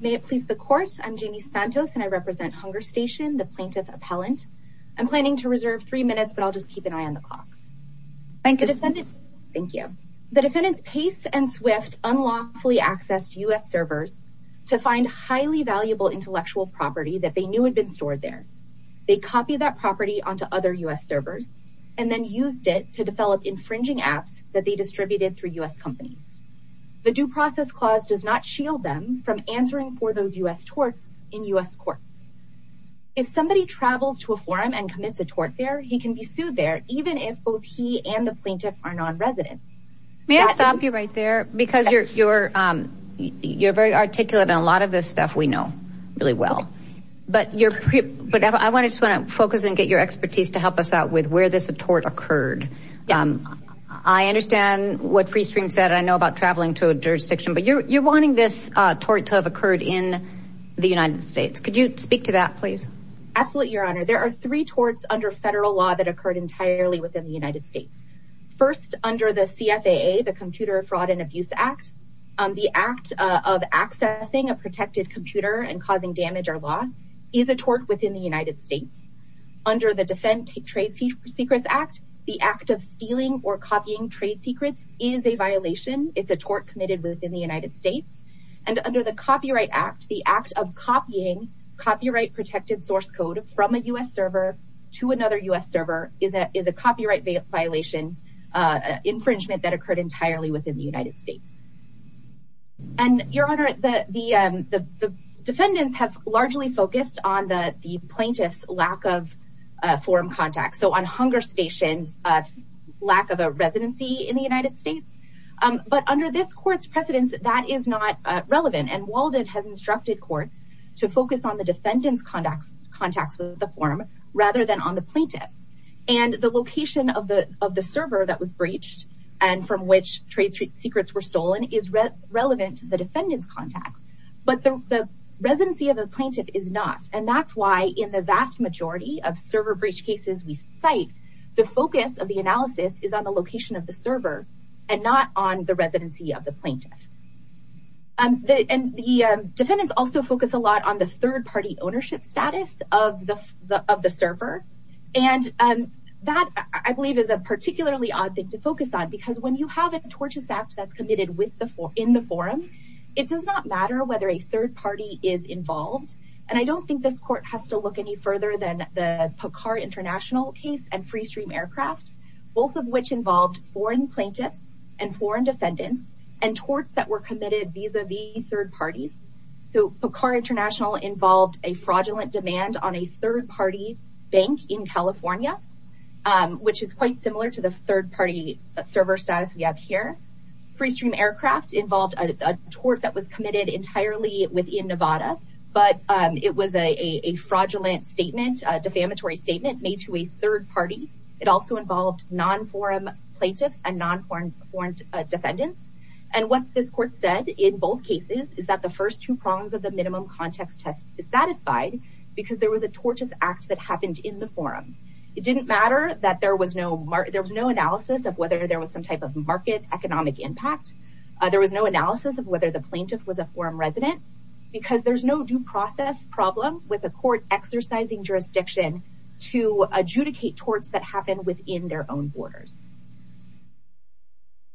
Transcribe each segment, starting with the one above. May it please the court. I'm Jamie Santos and I represent Hunger Station, the plaintiff appellant. I'm planning to reserve three minutes, but I'll just keep an eye on the clock. Thank you defendant. Thank you. The defendants Pace and Swift unlawfully accessed US servers to find highly valuable intellectual property that they knew had been stored there. They copy that property onto other US servers and then used it to develop infringing apps that they distributed through US companies. The due process clause does not shield them from answering for those US torts in US courts. If somebody travels to a forum and commits a tort there, he can be sued there. Even if both he and the plaintiff are non-resident. May I stop you right there? Because you're very articulate and a lot of this stuff we know really well, but I want to just want to focus and get your expertise to help us out with where this a tort occurred. Yeah, I understand what freestream said. I know about traveling to a jurisdiction, but you're wanting this tort to have occurred in the United States. Could you speak to that? Please? Absolutely. Your Honor. There are three torts under federal law that occurred entirely within the United States. First under the CFAA, the Computer Fraud and Abuse Act, the act of accessing a protected computer and causing damage or loss is a tort within the United States. Under the Defend Trade Secrets Act, the act of stealing or copying trade secrets is a violation. It's a tort committed within the United States and under the Copyright Act, the act of copying copyright protected source code from a US server to another US server is a copyright violation infringement that occurred entirely within the United States. And Your Honor, the defendants have largely focused on the plaintiff's lack of form contact. So on hunger stations, lack of a residency in the United States, but under this court's precedence, that is not relevant and Walden has instructed courts to focus on the defendants contacts with the form rather than on the plaintiff and the location of the server that was breached and from which trade secrets were stolen is relevant to the defendant's contacts, but the residency of the plaintiff is not and that's why in the vast majority of server breach cases, we cite the focus of the analysis is on the location of the server and not on the residency of the plaintiff. And the defendants also focus a lot on the third party ownership status of the server and that I believe is a particularly odd thing to focus on because when you have a tortious act that's committed in the forum, it does not matter whether a third party is involved and I don't think this court has to look any further than the Pucar International case and Free Stream Aircraft, both of which involved foreign plaintiffs and foreign defendants and torts that were committed vis-a-vis third parties. So Pucar International involved a fraudulent demand on a third party bank in California, which is quite similar to the third party server status we have here. Free Stream Aircraft involved a tort that was committed entirely within Nevada, but it was a fraudulent statement, defamatory statement made to a third party. It also involved non-forum plaintiffs and non-forum defendants and what this court said in both cases is that the first two prongs of the minimum context test is satisfied because there was a tortious act that happened in the forum. It didn't matter that there was no analysis of whether there was some type of market economic impact. There was no analysis of whether the plaintiff was a forum resident because there's no due process problem with a court exercising jurisdiction to adjudicate torts that happen within their own borders.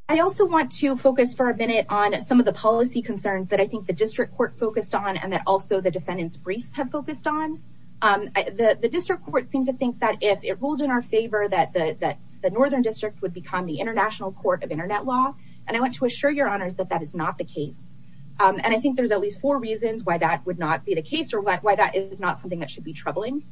I also want to focus for a minute on some of the policy concerns that I think the District Court focused on and that also the defendants briefs have focused on. The District Court seemed to think that if it ruled in our favor that the Northern District would become the International Court of Internet Law, and I want to assure your honors that that is not the case. And I think there's at least four reasons why that would not be the case or why that is not something that should be troubling.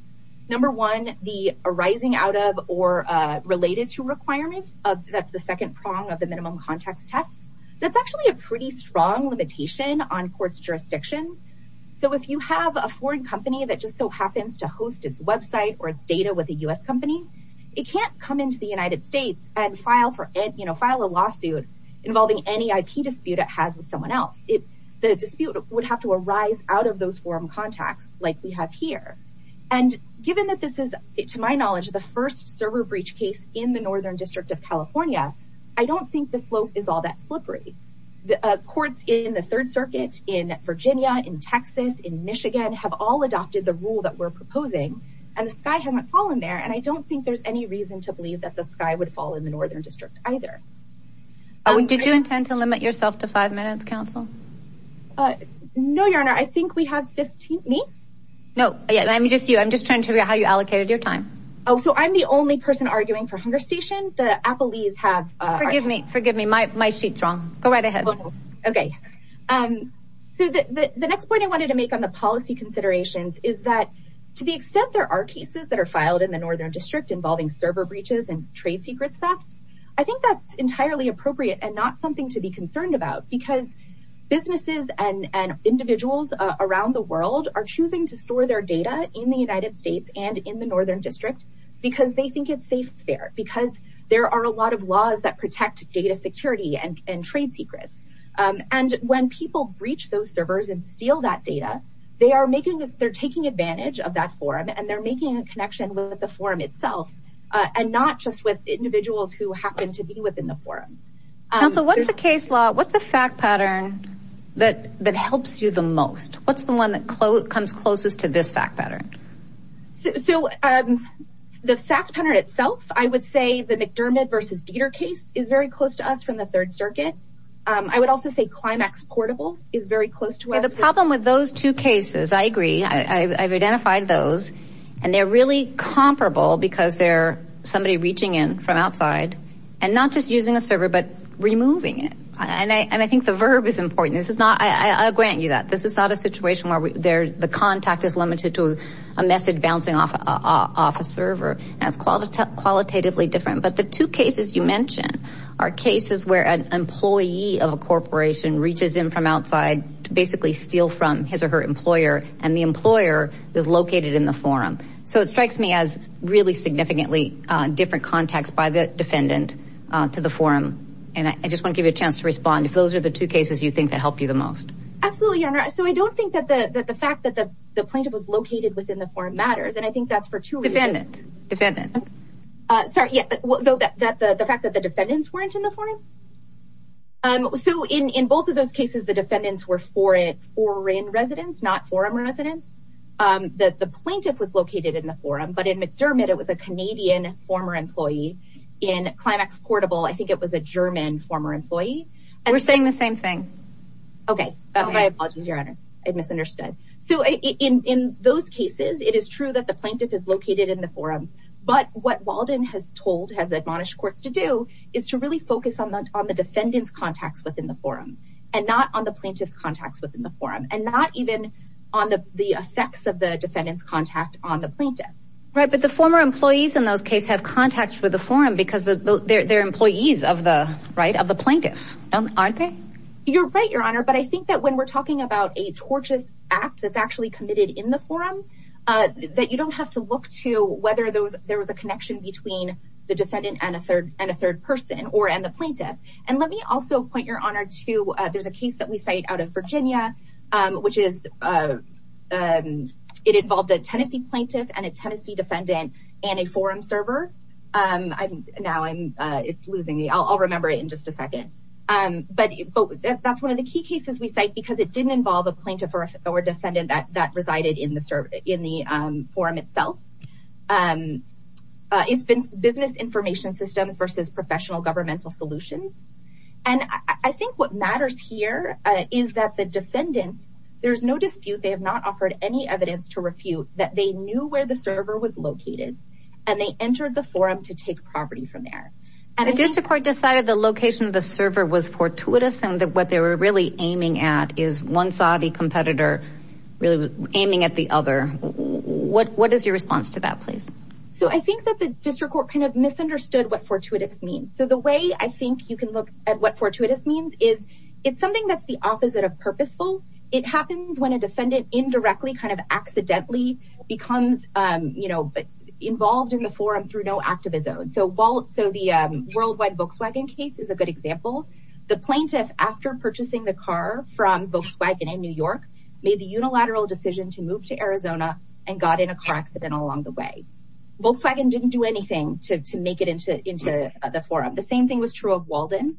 Number one, the arising out of or related to requirements of that's the second prong of the minimum context test. That's actually a pretty strong limitation on courts jurisdiction. So if you have a foreign company that just so happens to host its website or its data with a US company, it can't come into the United States and file for it, you know, file a lawsuit involving any IP dispute it has with someone else. If the dispute would have to arise out of those forum contacts like we have here and given that this is it to my knowledge the first server breach case in the Northern District of California. I don't think the slope is all that slippery the courts in the Third Circuit in Virginia in Texas in Michigan have all adopted the rule that we're proposing and the sky hasn't fallen there and I don't think there's any reason to believe that the sky would fall in the Northern District either. Did you intend to limit yourself to five minutes counsel? No, your honor. I think we have 15 me. No. Yeah, I'm just you. I'm just trying to figure out how you allocated your time. Oh, so I'm the only person arguing for hunger station. The Apple leaves have forgive me. Forgive me. My sheet's wrong. Go right ahead. Okay. So the next point I wanted to make on the policy considerations is that to the extent there are cases that are filed in the Northern District involving server breaches and trade secrets theft. I think that's entirely appropriate and not something to be concerned about because businesses and and individuals around the world are choosing to store their data in the United States and in the Northern District because they think it's safe there because there are a lot of laws that protect data security and trade secrets and when people breach those servers and steal that data they are making that they're taking advantage of that forum and they're making a connection with the forum itself and not just with individuals who happen to be within the forum. So what's the case law? What's the fact pattern that that helps you the most? What's the one that comes closest to this fact pattern? So the fact pattern itself. I would say the McDermott versus Dieter case is very close to us from the Third Circuit. I would also say Climax Portable is very close to us. The problem with those two cases. I agree. I've identified those and they're really comparable because they're somebody reaching in from outside and not just using a server but removing it and I and I think the verb is important. This is not I grant you that this is not a situation where we there the contact is limited to a message bouncing off of a server and it's called a qualitatively different but the two cases you mentioned are cases where an employee of a corporation reaches in from outside to basically steal from his or her employer and the employer is located in the forum. So it strikes me as really significantly different context by the defendant to the forum and I just want to give you a chance to respond if those are the two cases you think that help you the most. Absolutely, Your Honor. So I don't think that the fact that the plaintiff was located within the forum matters and I think that's for two reasons. Defendant, defendant. Sorry. Yeah, the fact that the defendants weren't in the forum. So in both of those cases, the defendants were foreign residents, not forum residents. The plaintiff was located in the forum, but in McDermott, it was a Canadian former employee in Climax Portable. I think it was a German former employee. We're saying the same thing. Okay. My apologies, Your Honor. I misunderstood. So in those cases, it is true that the plaintiff is located in the forum, but what Walden has told has admonished courts to do is to really focus on the on the defendants contacts within the forum and not on the plaintiffs contacts within the forum and not even on the effects of the defendants contact on the plaintiff. Right, but the former employees in those cases have contacts with the forum because they're employees of the plaintiff. Aren't they? You're right, Your Honor. But I think that when we're talking about a tortious act that's actually committed in the forum that you don't have to look to whether there was a connection between the defendant and a third person or and the plaintiff. And let me also point, Your Honor, to there's a case that we cite out of Virginia, which is it involved a Tennessee plaintiff and a Tennessee defendant and a forum server. Now, it's losing me. I'll remember it in just a second. But that's one of the key cases we cite because it didn't involve a plaintiff or defendant that resided in the forum itself. It's been business information systems versus professional governmental solutions. And I think what matters here is that the defendants, there's no dispute. They have not offered any evidence to refute that they knew where the server was located and they entered the forum to take property from there. The district court decided the location of the server was fortuitous and that what they were really aiming at is one Saudi competitor really aiming at the other. What is your response to that, please? So I think that the district court kind of misunderstood what fortuitous means. So the way I think you can look at what fortuitous means is it's something that's the opposite of purposeful. It happens when a defendant indirectly kind of accidentally becomes involved in the forum through no act of his own. So the worldwide Volkswagen case is a good example. The plaintiff after purchasing the car from Volkswagen in New York made the unilateral decision to move to Arizona and got in a car accident along the way. Volkswagen didn't do anything to make it into the forum. The same thing was true of Walden.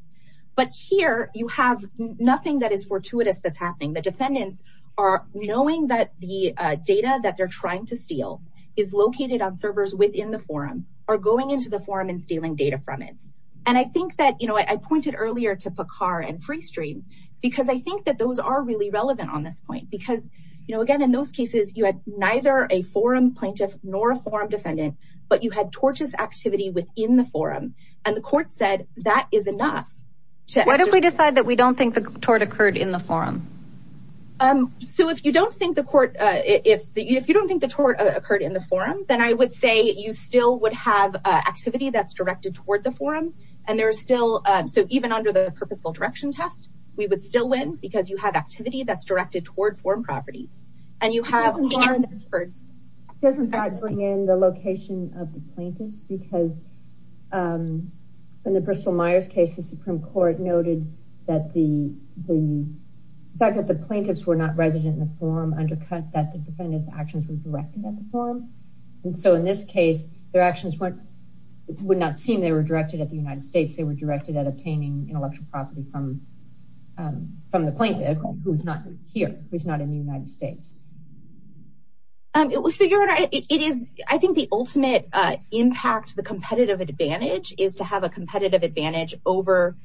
But here you have nothing that is fortuitous that's happening. The defendants are knowing that the data that they're trying to steal is located on servers within the forum or going into the forum and stealing data from it. And I think that, you know, I pointed earlier to Picar and Freestream because I think that those are really relevant on this point because, you know, again, in those cases you had neither a forum plaintiff nor a forum defendant, but you had tortious activity within the forum and the court said that is enough. Why don't we decide that we don't think the tort occurred in the forum? So if you don't think the court, if you don't think the tort occurred in the forum, then I would say you still would have activity that's directed toward the forum and there is still, so even under the purposeful direction test, we would still win because you have activity that's directed toward forum property. And you have- It doesn't bring in the location of the plaintiffs because in the Bristol Myers case, the Supreme Court noted that the fact that the plaintiffs were not resident in the forum undercut that the defendant's actions were directed at the forum. And so in this case, their actions would not seem they were directed at the United States. They were directed at obtaining intellectual property from the plaintiff who's not here, who's not in the United States. I think the ultimate impact, the competitive advantage is to have a competitive advantage over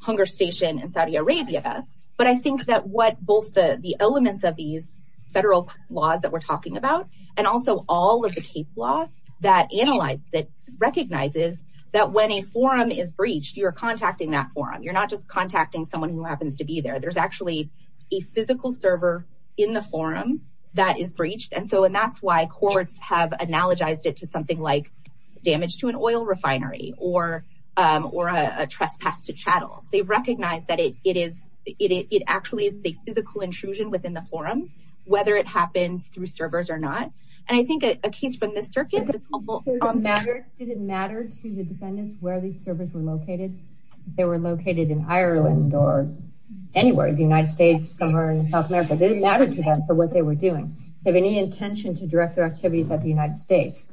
Hunger Station in Saudi Arabia, but I think that what both the elements of these federal laws that we're talking about and also all of the case law that analyzes, that recognizes that when a forum is breached, you're contacting that forum. You're not just contacting someone who happens to be there. There's actually a physical server in the forum that is breached. And so that's why courts have analogized it to something like damage to an oil refinery or a trespass to chattel. They recognize that it actually is a physical intrusion within the forum, whether it happens through servers or not. And I think a case from this circuit- Did it matter to the defendants where these servers were located in Ireland or anywhere in the United States, somewhere in South America? Did it matter to them for what they were doing? Do they have any intention to direct their activities at the United States?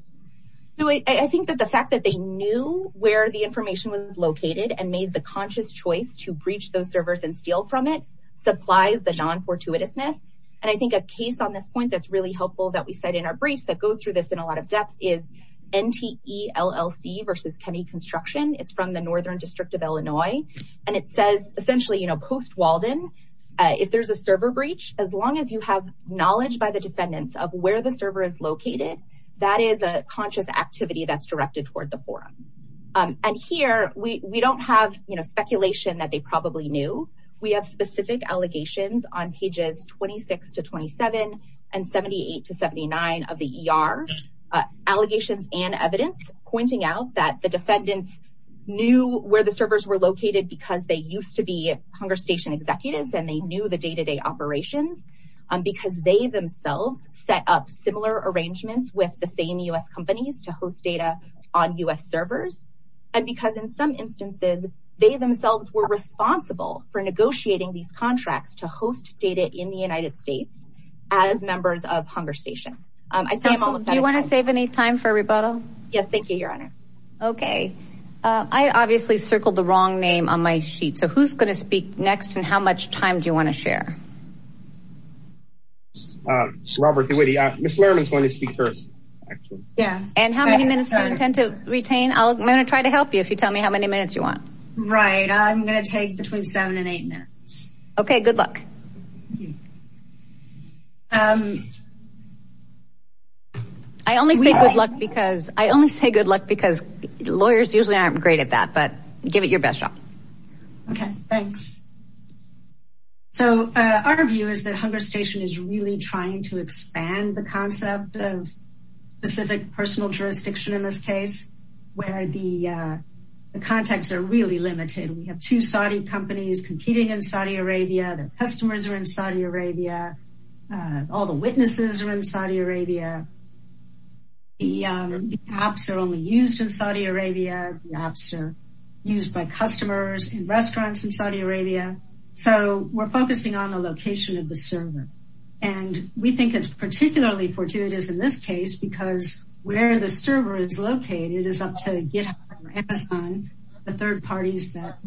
So I think that the fact that they knew where the information was located and made the conscious choice to breach those servers and steal from it, supplies the non-fortuitousness. And I think a case on this point that's really helpful that we cite in our briefs that goes through this in a lot of depth is NTELLC versus Kenny Construction. It's from the Northern District of Illinois, and it says essentially, you know, post Walden, if there's a server breach, as long as you have knowledge by the defendants of where the server is located, that is a conscious activity that's directed toward the forum. And here we don't have, you know, speculation that they probably knew. We have specific allegations on pages 26 to 27 and 78 to 79 of the ER. Allegations and evidence pointing out that the defendants knew where the servers were located because they used to be Hunger Station executives and they knew the day-to-day operations because they themselves set up similar arrangements with the same U.S. companies to host data on U.S. servers. And because in some instances, they themselves were responsible for negotiating these contracts to host data in the United States as members of Hunger Station. I see them all. Do you want to save any time for rebuttal? Yes. Thank you, Your Honor. Okay. I obviously circled the wrong name on my sheet. So who's going to speak next and how much time do you want to share? Robert DeWitty. Ms. Lerman is going to speak first. Yeah. And how many minutes do you intend to retain? I'm going to try to help you if you tell me how many minutes you want. Right. I'm going to take between seven and eight minutes. Okay, good luck. I only say good luck because I only say good luck because lawyers usually aren't great at that. But give it your best shot. Okay, thanks. So our view is that Hunger Station is really trying to expand the concept of specific personal jurisdiction in this case where the contacts are really limited. We have two Saudi companies competing in Saudi Arabia. Their customers are in Saudi Arabia. All the witnesses are in Saudi Arabia. The apps are only used in Saudi Arabia. The apps are used by customers in restaurants in Saudi Arabia. So we're focusing on the location of the server and we think it's particularly fortuitous in this case because where the server is located is up to GitHub or Amazon, the third parties that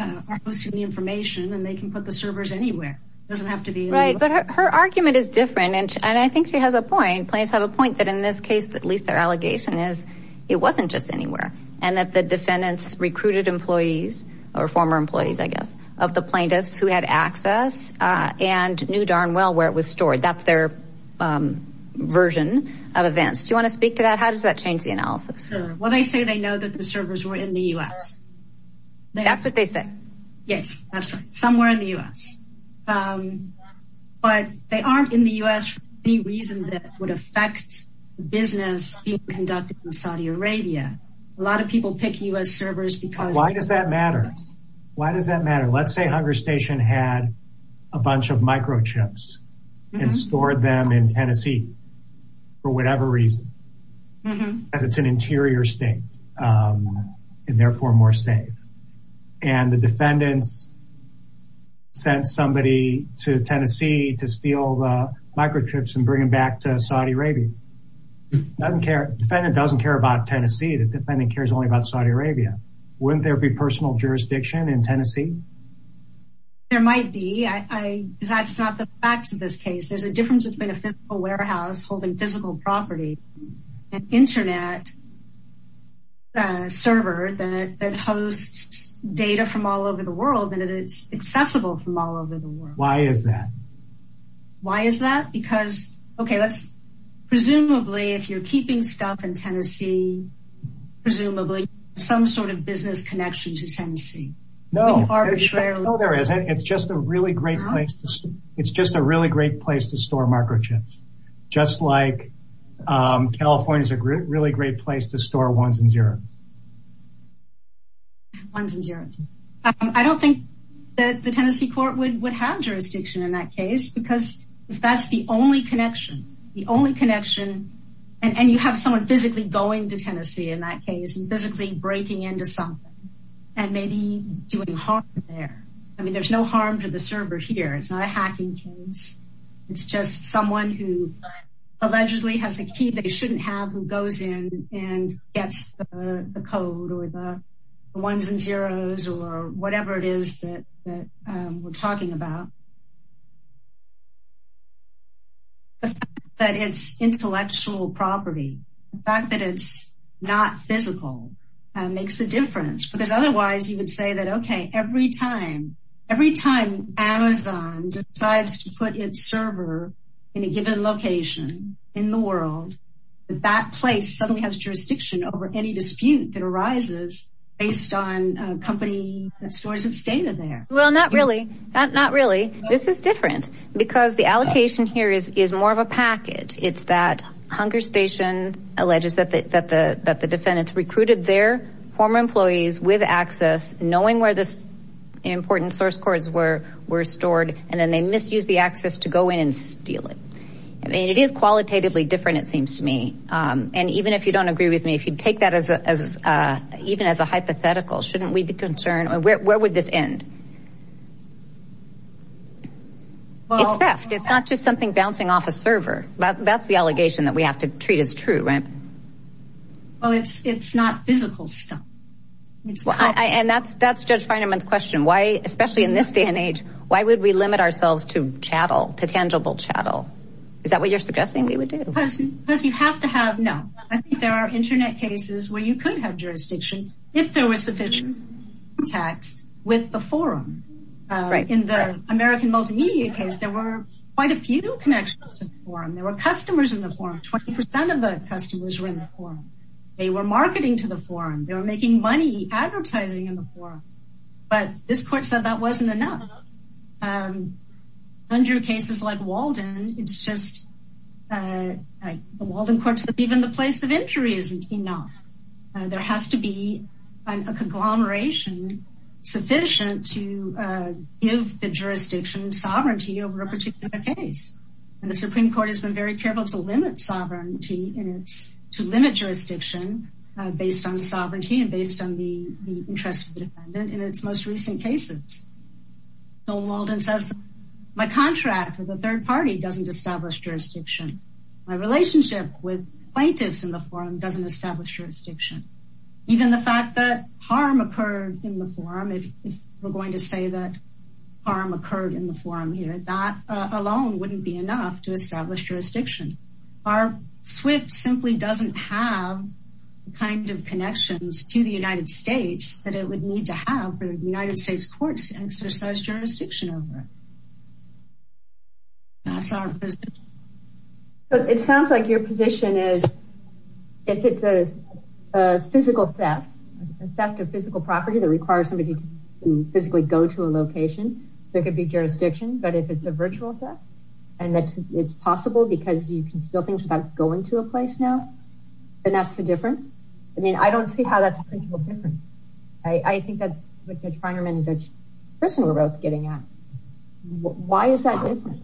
are posting the information and they can put the servers anywhere. It doesn't have to be anywhere. Right. But her argument is different and I think it's really important and I think she has a point. Plaintiffs have a point that in this case, at least their allegation is it wasn't just anywhere and that the defendants recruited employees or former employees, I guess, of the plaintiffs who had access and knew darn well where it was stored. That's their version of events. Do you want to speak to that? How does that change the analysis? Well, they say they know that the servers were in the U.S. That's what they say. Yes, that's right. Somewhere in the U.S. But they aren't in the U.S. for any reason that would affect business being conducted in Saudi Arabia. A lot of people pick U.S. servers because... Why does that matter? Why does that matter? Let's say Hunger Station had a bunch of microchips and stored them in Tennessee for whatever reason because it's an interior state and therefore more safe. And the defendants sent somebody to Tennessee to steal the microchips and bring them back to Saudi Arabia. Defendant doesn't care about Tennessee. The defendant cares only about Saudi Arabia. Wouldn't there be personal jurisdiction in Tennessee? There might be. That's not the facts of this case. There's a difference between a physical warehouse holding physical property and an internet server that hosts data from all over the world and it's accessible from all over the world. Why is that? Why is that? Because, okay, presumably if you're keeping stuff in Tennessee, presumably some sort of business connection to Tennessee. No, there isn't. It's just a really great place to store microchips. Just like California is a really great place to store ones and zeros. Ones and zeros. I don't think that the Tennessee court would have jurisdiction in that case because if that's the only connection, the only connection and you have someone physically going to Tennessee in that case and physically breaking into something and maybe doing harm there. I mean, there's no harm to the server here. It's not a hacking case. It's just someone who allegedly has a key they shouldn't have who goes in and gets the code or the ones and zeros or whatever it is that we're talking about. That it's intellectual property, the fact that it's not physical makes a difference because otherwise you would say that, okay, every time Amazon decides to put its server in a given location in the world, that place suddenly has jurisdiction over any dispute that arises based on a company that stores its data there. Well, not really. Not really. This is different because the allocation here is more of a package. It's that Hunger Station alleges that the defendants recruited their former employees with access knowing where this important source codes were stored and then they misuse the access to go in and steal it. I mean, it is qualitatively different. It seems to me and even if you don't agree with me, if you'd take that as even as a hypothetical, shouldn't we be concerned or where would this end? Well, it's theft. It's not just something bouncing off a server. That's the allegation that we have to treat as true, right? Well, it's not physical stuff. And that's Judge Fineman's question. Why, especially in this day and age, why would we limit ourselves to chattel, to tangible chattel? Is that what you're suggesting we would do? Because you have to have, no. I think there are internet cases where you could have jurisdiction if there was sufficient contacts with the forum. In the American multimedia case, there were quite a few connections to the forum. There were customers in the forum. 20% of the customers were in the forum. They were marketing to the forum. They were making money advertising in the forum, but this court said that wasn't enough. Under cases like Walden, it's just like the Walden courts that even the place of injury isn't enough. There has to be a conglomeration sufficient to give the jurisdiction sovereignty over a particular case. And the Supreme Court has been very careful to limit sovereignty and it's to limit jurisdiction based on sovereignty and based on the interest of the defendant in its most recent cases. So Walden says my contract with the third party doesn't establish jurisdiction. My relationship with plaintiffs in the forum doesn't establish jurisdiction. Even the fact that harm occurred in the forum, if we're going to say that harm occurred in the forum here, that alone wouldn't be enough to establish jurisdiction. Our SWIFT simply doesn't have the kind of connections to the United States that it would need to have for the United States courts to exercise jurisdiction over it. That's our position. But it sounds like your position is if it's a physical theft, a theft of physical property that requires somebody to physically go to a location, there could be jurisdiction, but if it's a you can steal things without going to a place now, and that's the difference. I mean, I don't see how that's a principle difference. I think that's what Judge Feinerman and Judge Christen were both getting at. Why is that different?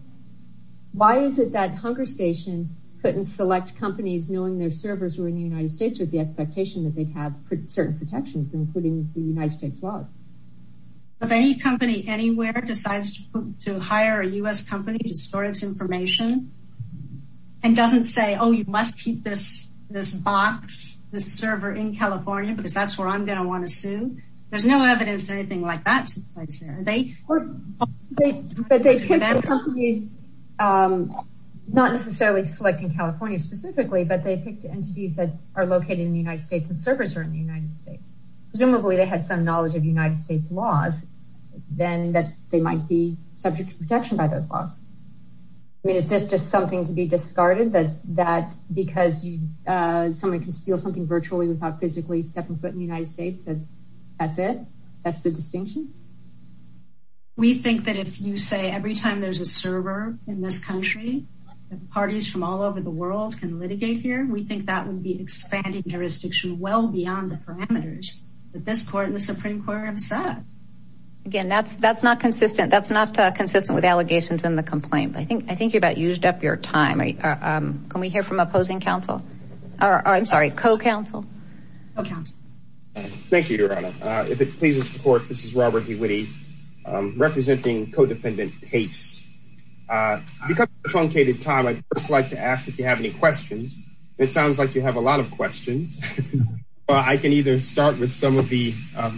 Why is it that Hunger Station couldn't select companies knowing their servers were in the United States with the expectation that they'd have certain protections including the United States laws? If any company anywhere decides to hire a U.S. company to store its information and doesn't say, oh, you must keep this box, this server in California because that's where I'm going to want to sue, there's no evidence that anything like that took place there. Not necessarily selecting California specifically, but they picked entities that are located in the United States and servers are in the United States. Presumably they had some knowledge of United States laws, then that they might be subject to protection by those laws. I mean, is this just something to be discarded that because someone can steal something virtually without physically stepping foot in the United States and that's it? That's the distinction? We think that if you say every time there's a server in this country, that parties from all over the world can litigate here, we think that would be expanding jurisdiction well beyond the parameters that this court and the Supreme Court have set. Again, that's not consistent. That's not consistent with allegations in the complaint. I think you about used up your time. Can we hear from opposing counsel? I'm sorry, co-counsel. Thank you, Your Honor. If it pleases the court, this is Robert DeWitty representing co-defendant Pace. Because of the truncated time, I'd first like to ask if you have any questions. It sounds like you have a lot of questions. I can either start with some of the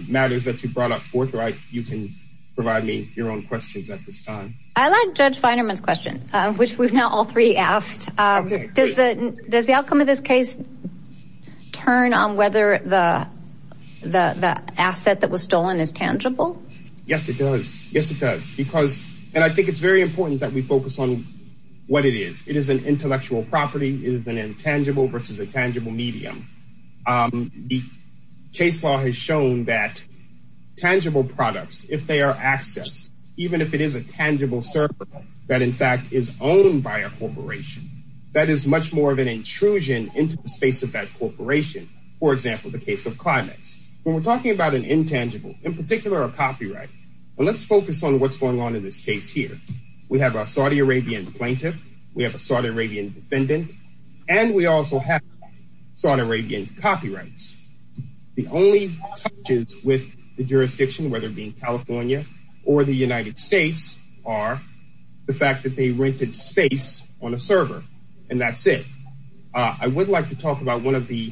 matters that you brought forth or you can provide me your own questions at this time. I like Judge Feinerman's question, which we've now all three asked. Does the outcome of this case turn on whether the asset that was stolen is tangible? Yes, it does. Yes, it does. Because and I think it's very important that we focus on what it is. It is an intellectual property. It is an intangible versus a tangible medium. The case law has shown that tangible products, if they are accessed, even if it is a tangible server that in fact is owned by a corporation, that is much more of an intrusion into the space of that corporation. For example, the case of Climax, when we're talking about an intangible, in particular, a copyright, and let's focus on what's going on in this case here. We have a Saudi Arabian plaintiff. We have a Saudi Arabian defendant and we also have Saudi Arabian copyrights. The only touches with the jurisdiction, whether it be in California or the United States, are the fact that they rented space on a server and that's it. I would like to talk about one of the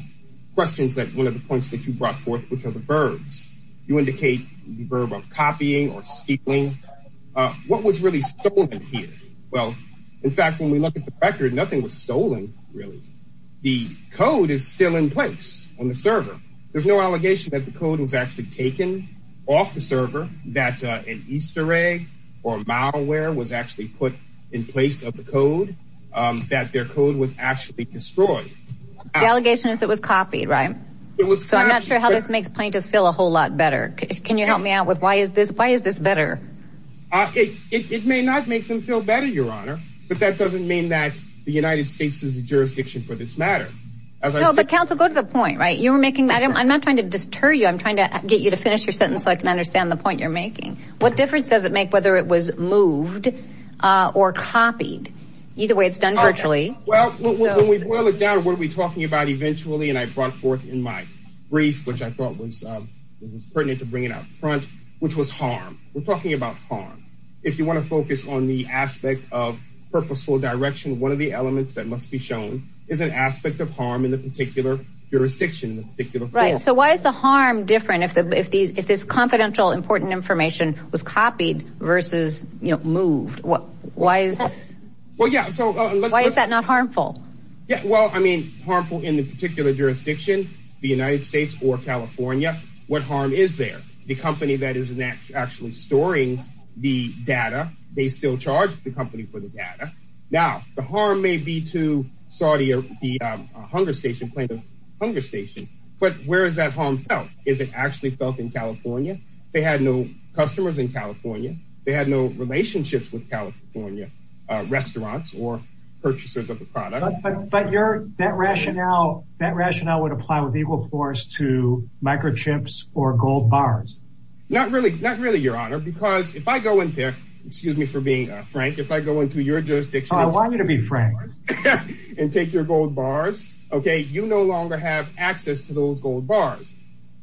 questions that one of the points that you brought forth, which are the verbs. You indicate the verb of copying or stealing. What was really stolen here? Well, in fact, when we look at the record, nothing was stolen really. The code is still in place on the server. There's no allegation that the code was actually taken off the server, that an Easter egg or malware was actually put in place of the code, that their code was actually destroyed. The allegation is it was copied, right? It was. So I'm not sure how this makes plaintiffs feel a whole lot better. Can you help me out with why is this? Why is this better? It may not make them feel better, Your Honor, but that doesn't mean that the United States is a jurisdiction for this matter. No, but counsel, go to the point, right? You were making, I'm not trying to deter you. I'm trying to get you to finish your sentence so I can understand the point you're making. What difference does it make whether it was moved or copied? Either way, it's done virtually. Well, when we boil it down, what are we talking about eventually? And I brought forth in my brief, which I thought was pertinent to bring it up front, which was harm. We're talking about harm. If you want to focus on the aspect of purposeful direction, one of the elements that must be shown is an aspect of harm in the particular jurisdiction, in the particular field. So why is the harm different if this confidential important information was copied versus, you know, moved? Why is that not harmful? Yeah. Well, I mean, harmful in the particular jurisdiction, the United States or California, what harm is there? The company that is actually storing the data, they still charge the company for the data. Now, the harm may be to Saudi or the hunger station, but where is that harm felt? Is it actually felt in California? They had no customers in California. They had no relationships with California restaurants or purchasers of the product. But that rationale would apply with equal force to microchips or gold bars. Not really. Not really, Your Honor, because if I go in there, excuse me for being frank. If I go into your jurisdiction, I want you to be frank and take your gold bars. Okay, you no longer have access to those gold bars.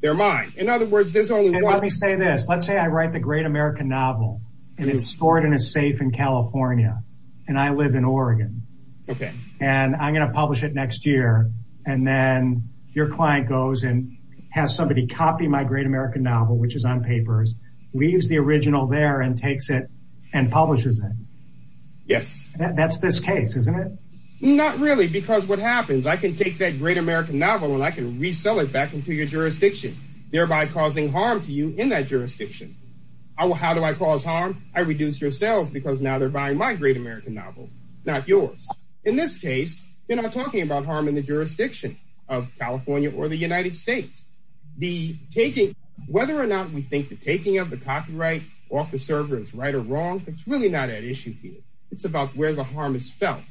They're mine. In other words, there's only let me say this. Let's say I write the great American novel and it's stored in a safe in California and I live in Oregon. Okay, and I'm going to publish it next year and then your client goes and has somebody copy my great American novel, which is on papers, leaves the original there and takes it and publishes it. Yes, that's this case, isn't it? Not really, because what happens? I can take that great American novel and I can resell it back into your jurisdiction, thereby causing harm to you in that jurisdiction. How do I cause harm? I reduced your sales because now they're buying my great American novel, not yours. In this case, you know, talking about harm in the jurisdiction of California or the United States, the taking whether or not we think the taking of the copyright off the server is right or wrong. It's really not an issue here. It's about where the harm is felt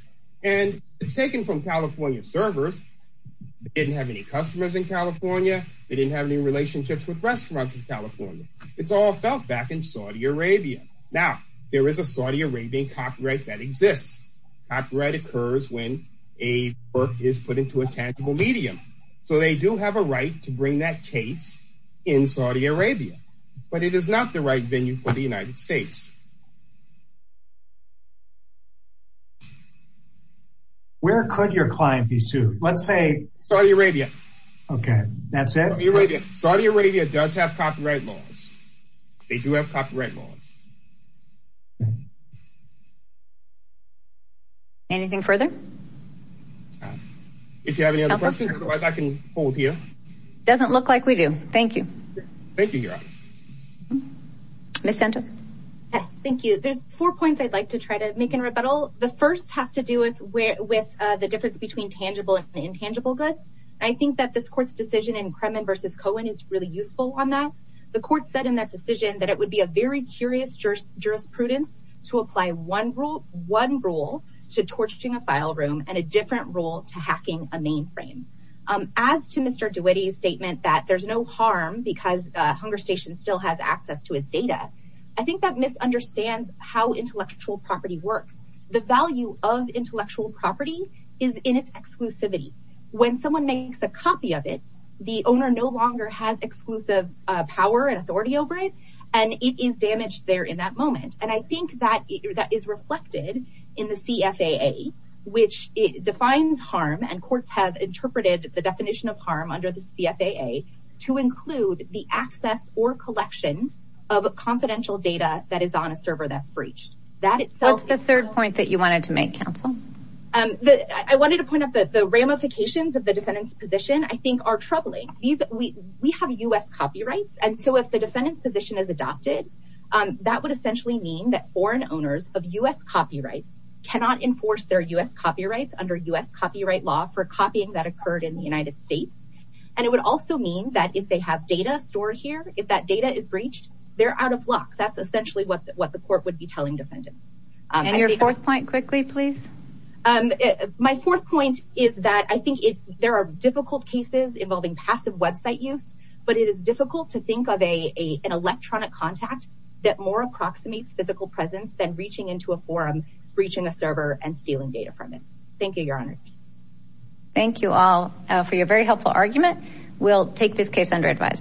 and it's taken from California servers. Didn't have any customers in California. They didn't have any relationships with restaurants in California. It's all felt back in Saudi Arabia. Now, there is a Saudi Arabian copyright that exists. Copyright occurs when a work is put into a tangible medium. So they do have a right to bring that case in Saudi Arabia, but it is not the right venue for the United States. Where could your client be sued? Let's say Saudi Arabia. Okay, that's it. Saudi Arabia does have copyright laws. They do have copyright laws. Anything further? If you have any other questions, I can hold here. Doesn't look like we do. Thank you. Thank you. Miss Santos. Yes. Thank you. There's four points. I'd like to try to make in rebuttal. The first has to do with where with the difference between tangible and intangible goods. I think that this court's decision in Kremen versus Cohen is really useful on that. The court said in that decision that it would be a very curious jurisprudence to apply one rule to torching a file room and a different rule to hacking a mainframe. As to Mr. DeWitty's statement that there's no harm because Hunger Station still has access to his data. I think that misunderstands how intellectual property works. The value of intellectual property is in its exclusivity. When someone makes a copy of it, the owner no longer has exclusive power and authority over it and it is damaged their property in that moment. And I think that is reflected in the CFAA, which defines harm and courts have interpreted the definition of harm under the CFAA to include the access or collection of confidential data that is on a server that's breached. What's the third point that you wanted to make, Counsel? I wanted to point out that the ramifications of the defendant's position, I think are troubling. We have U.S. copyrights. And so if the defendant's position is adopted, that would essentially mean that foreign owners of U.S. copyrights cannot enforce their U.S. copyrights under U.S. copyright law for copying that occurred in the United States. And it would also mean that if they have data stored here, if that data is breached, they're out of luck. That's essentially what the court would be telling defendants. And your fourth point quickly, please. My fourth point is that I think there are difficult cases involving passive website use, but it is difficult to think of an electronic contact that more approximates physical presence than reaching into a forum, breaching a server, and stealing data from it. Thank you, Your Honors. Thank you all for your very helpful argument. We'll take this case under advisory.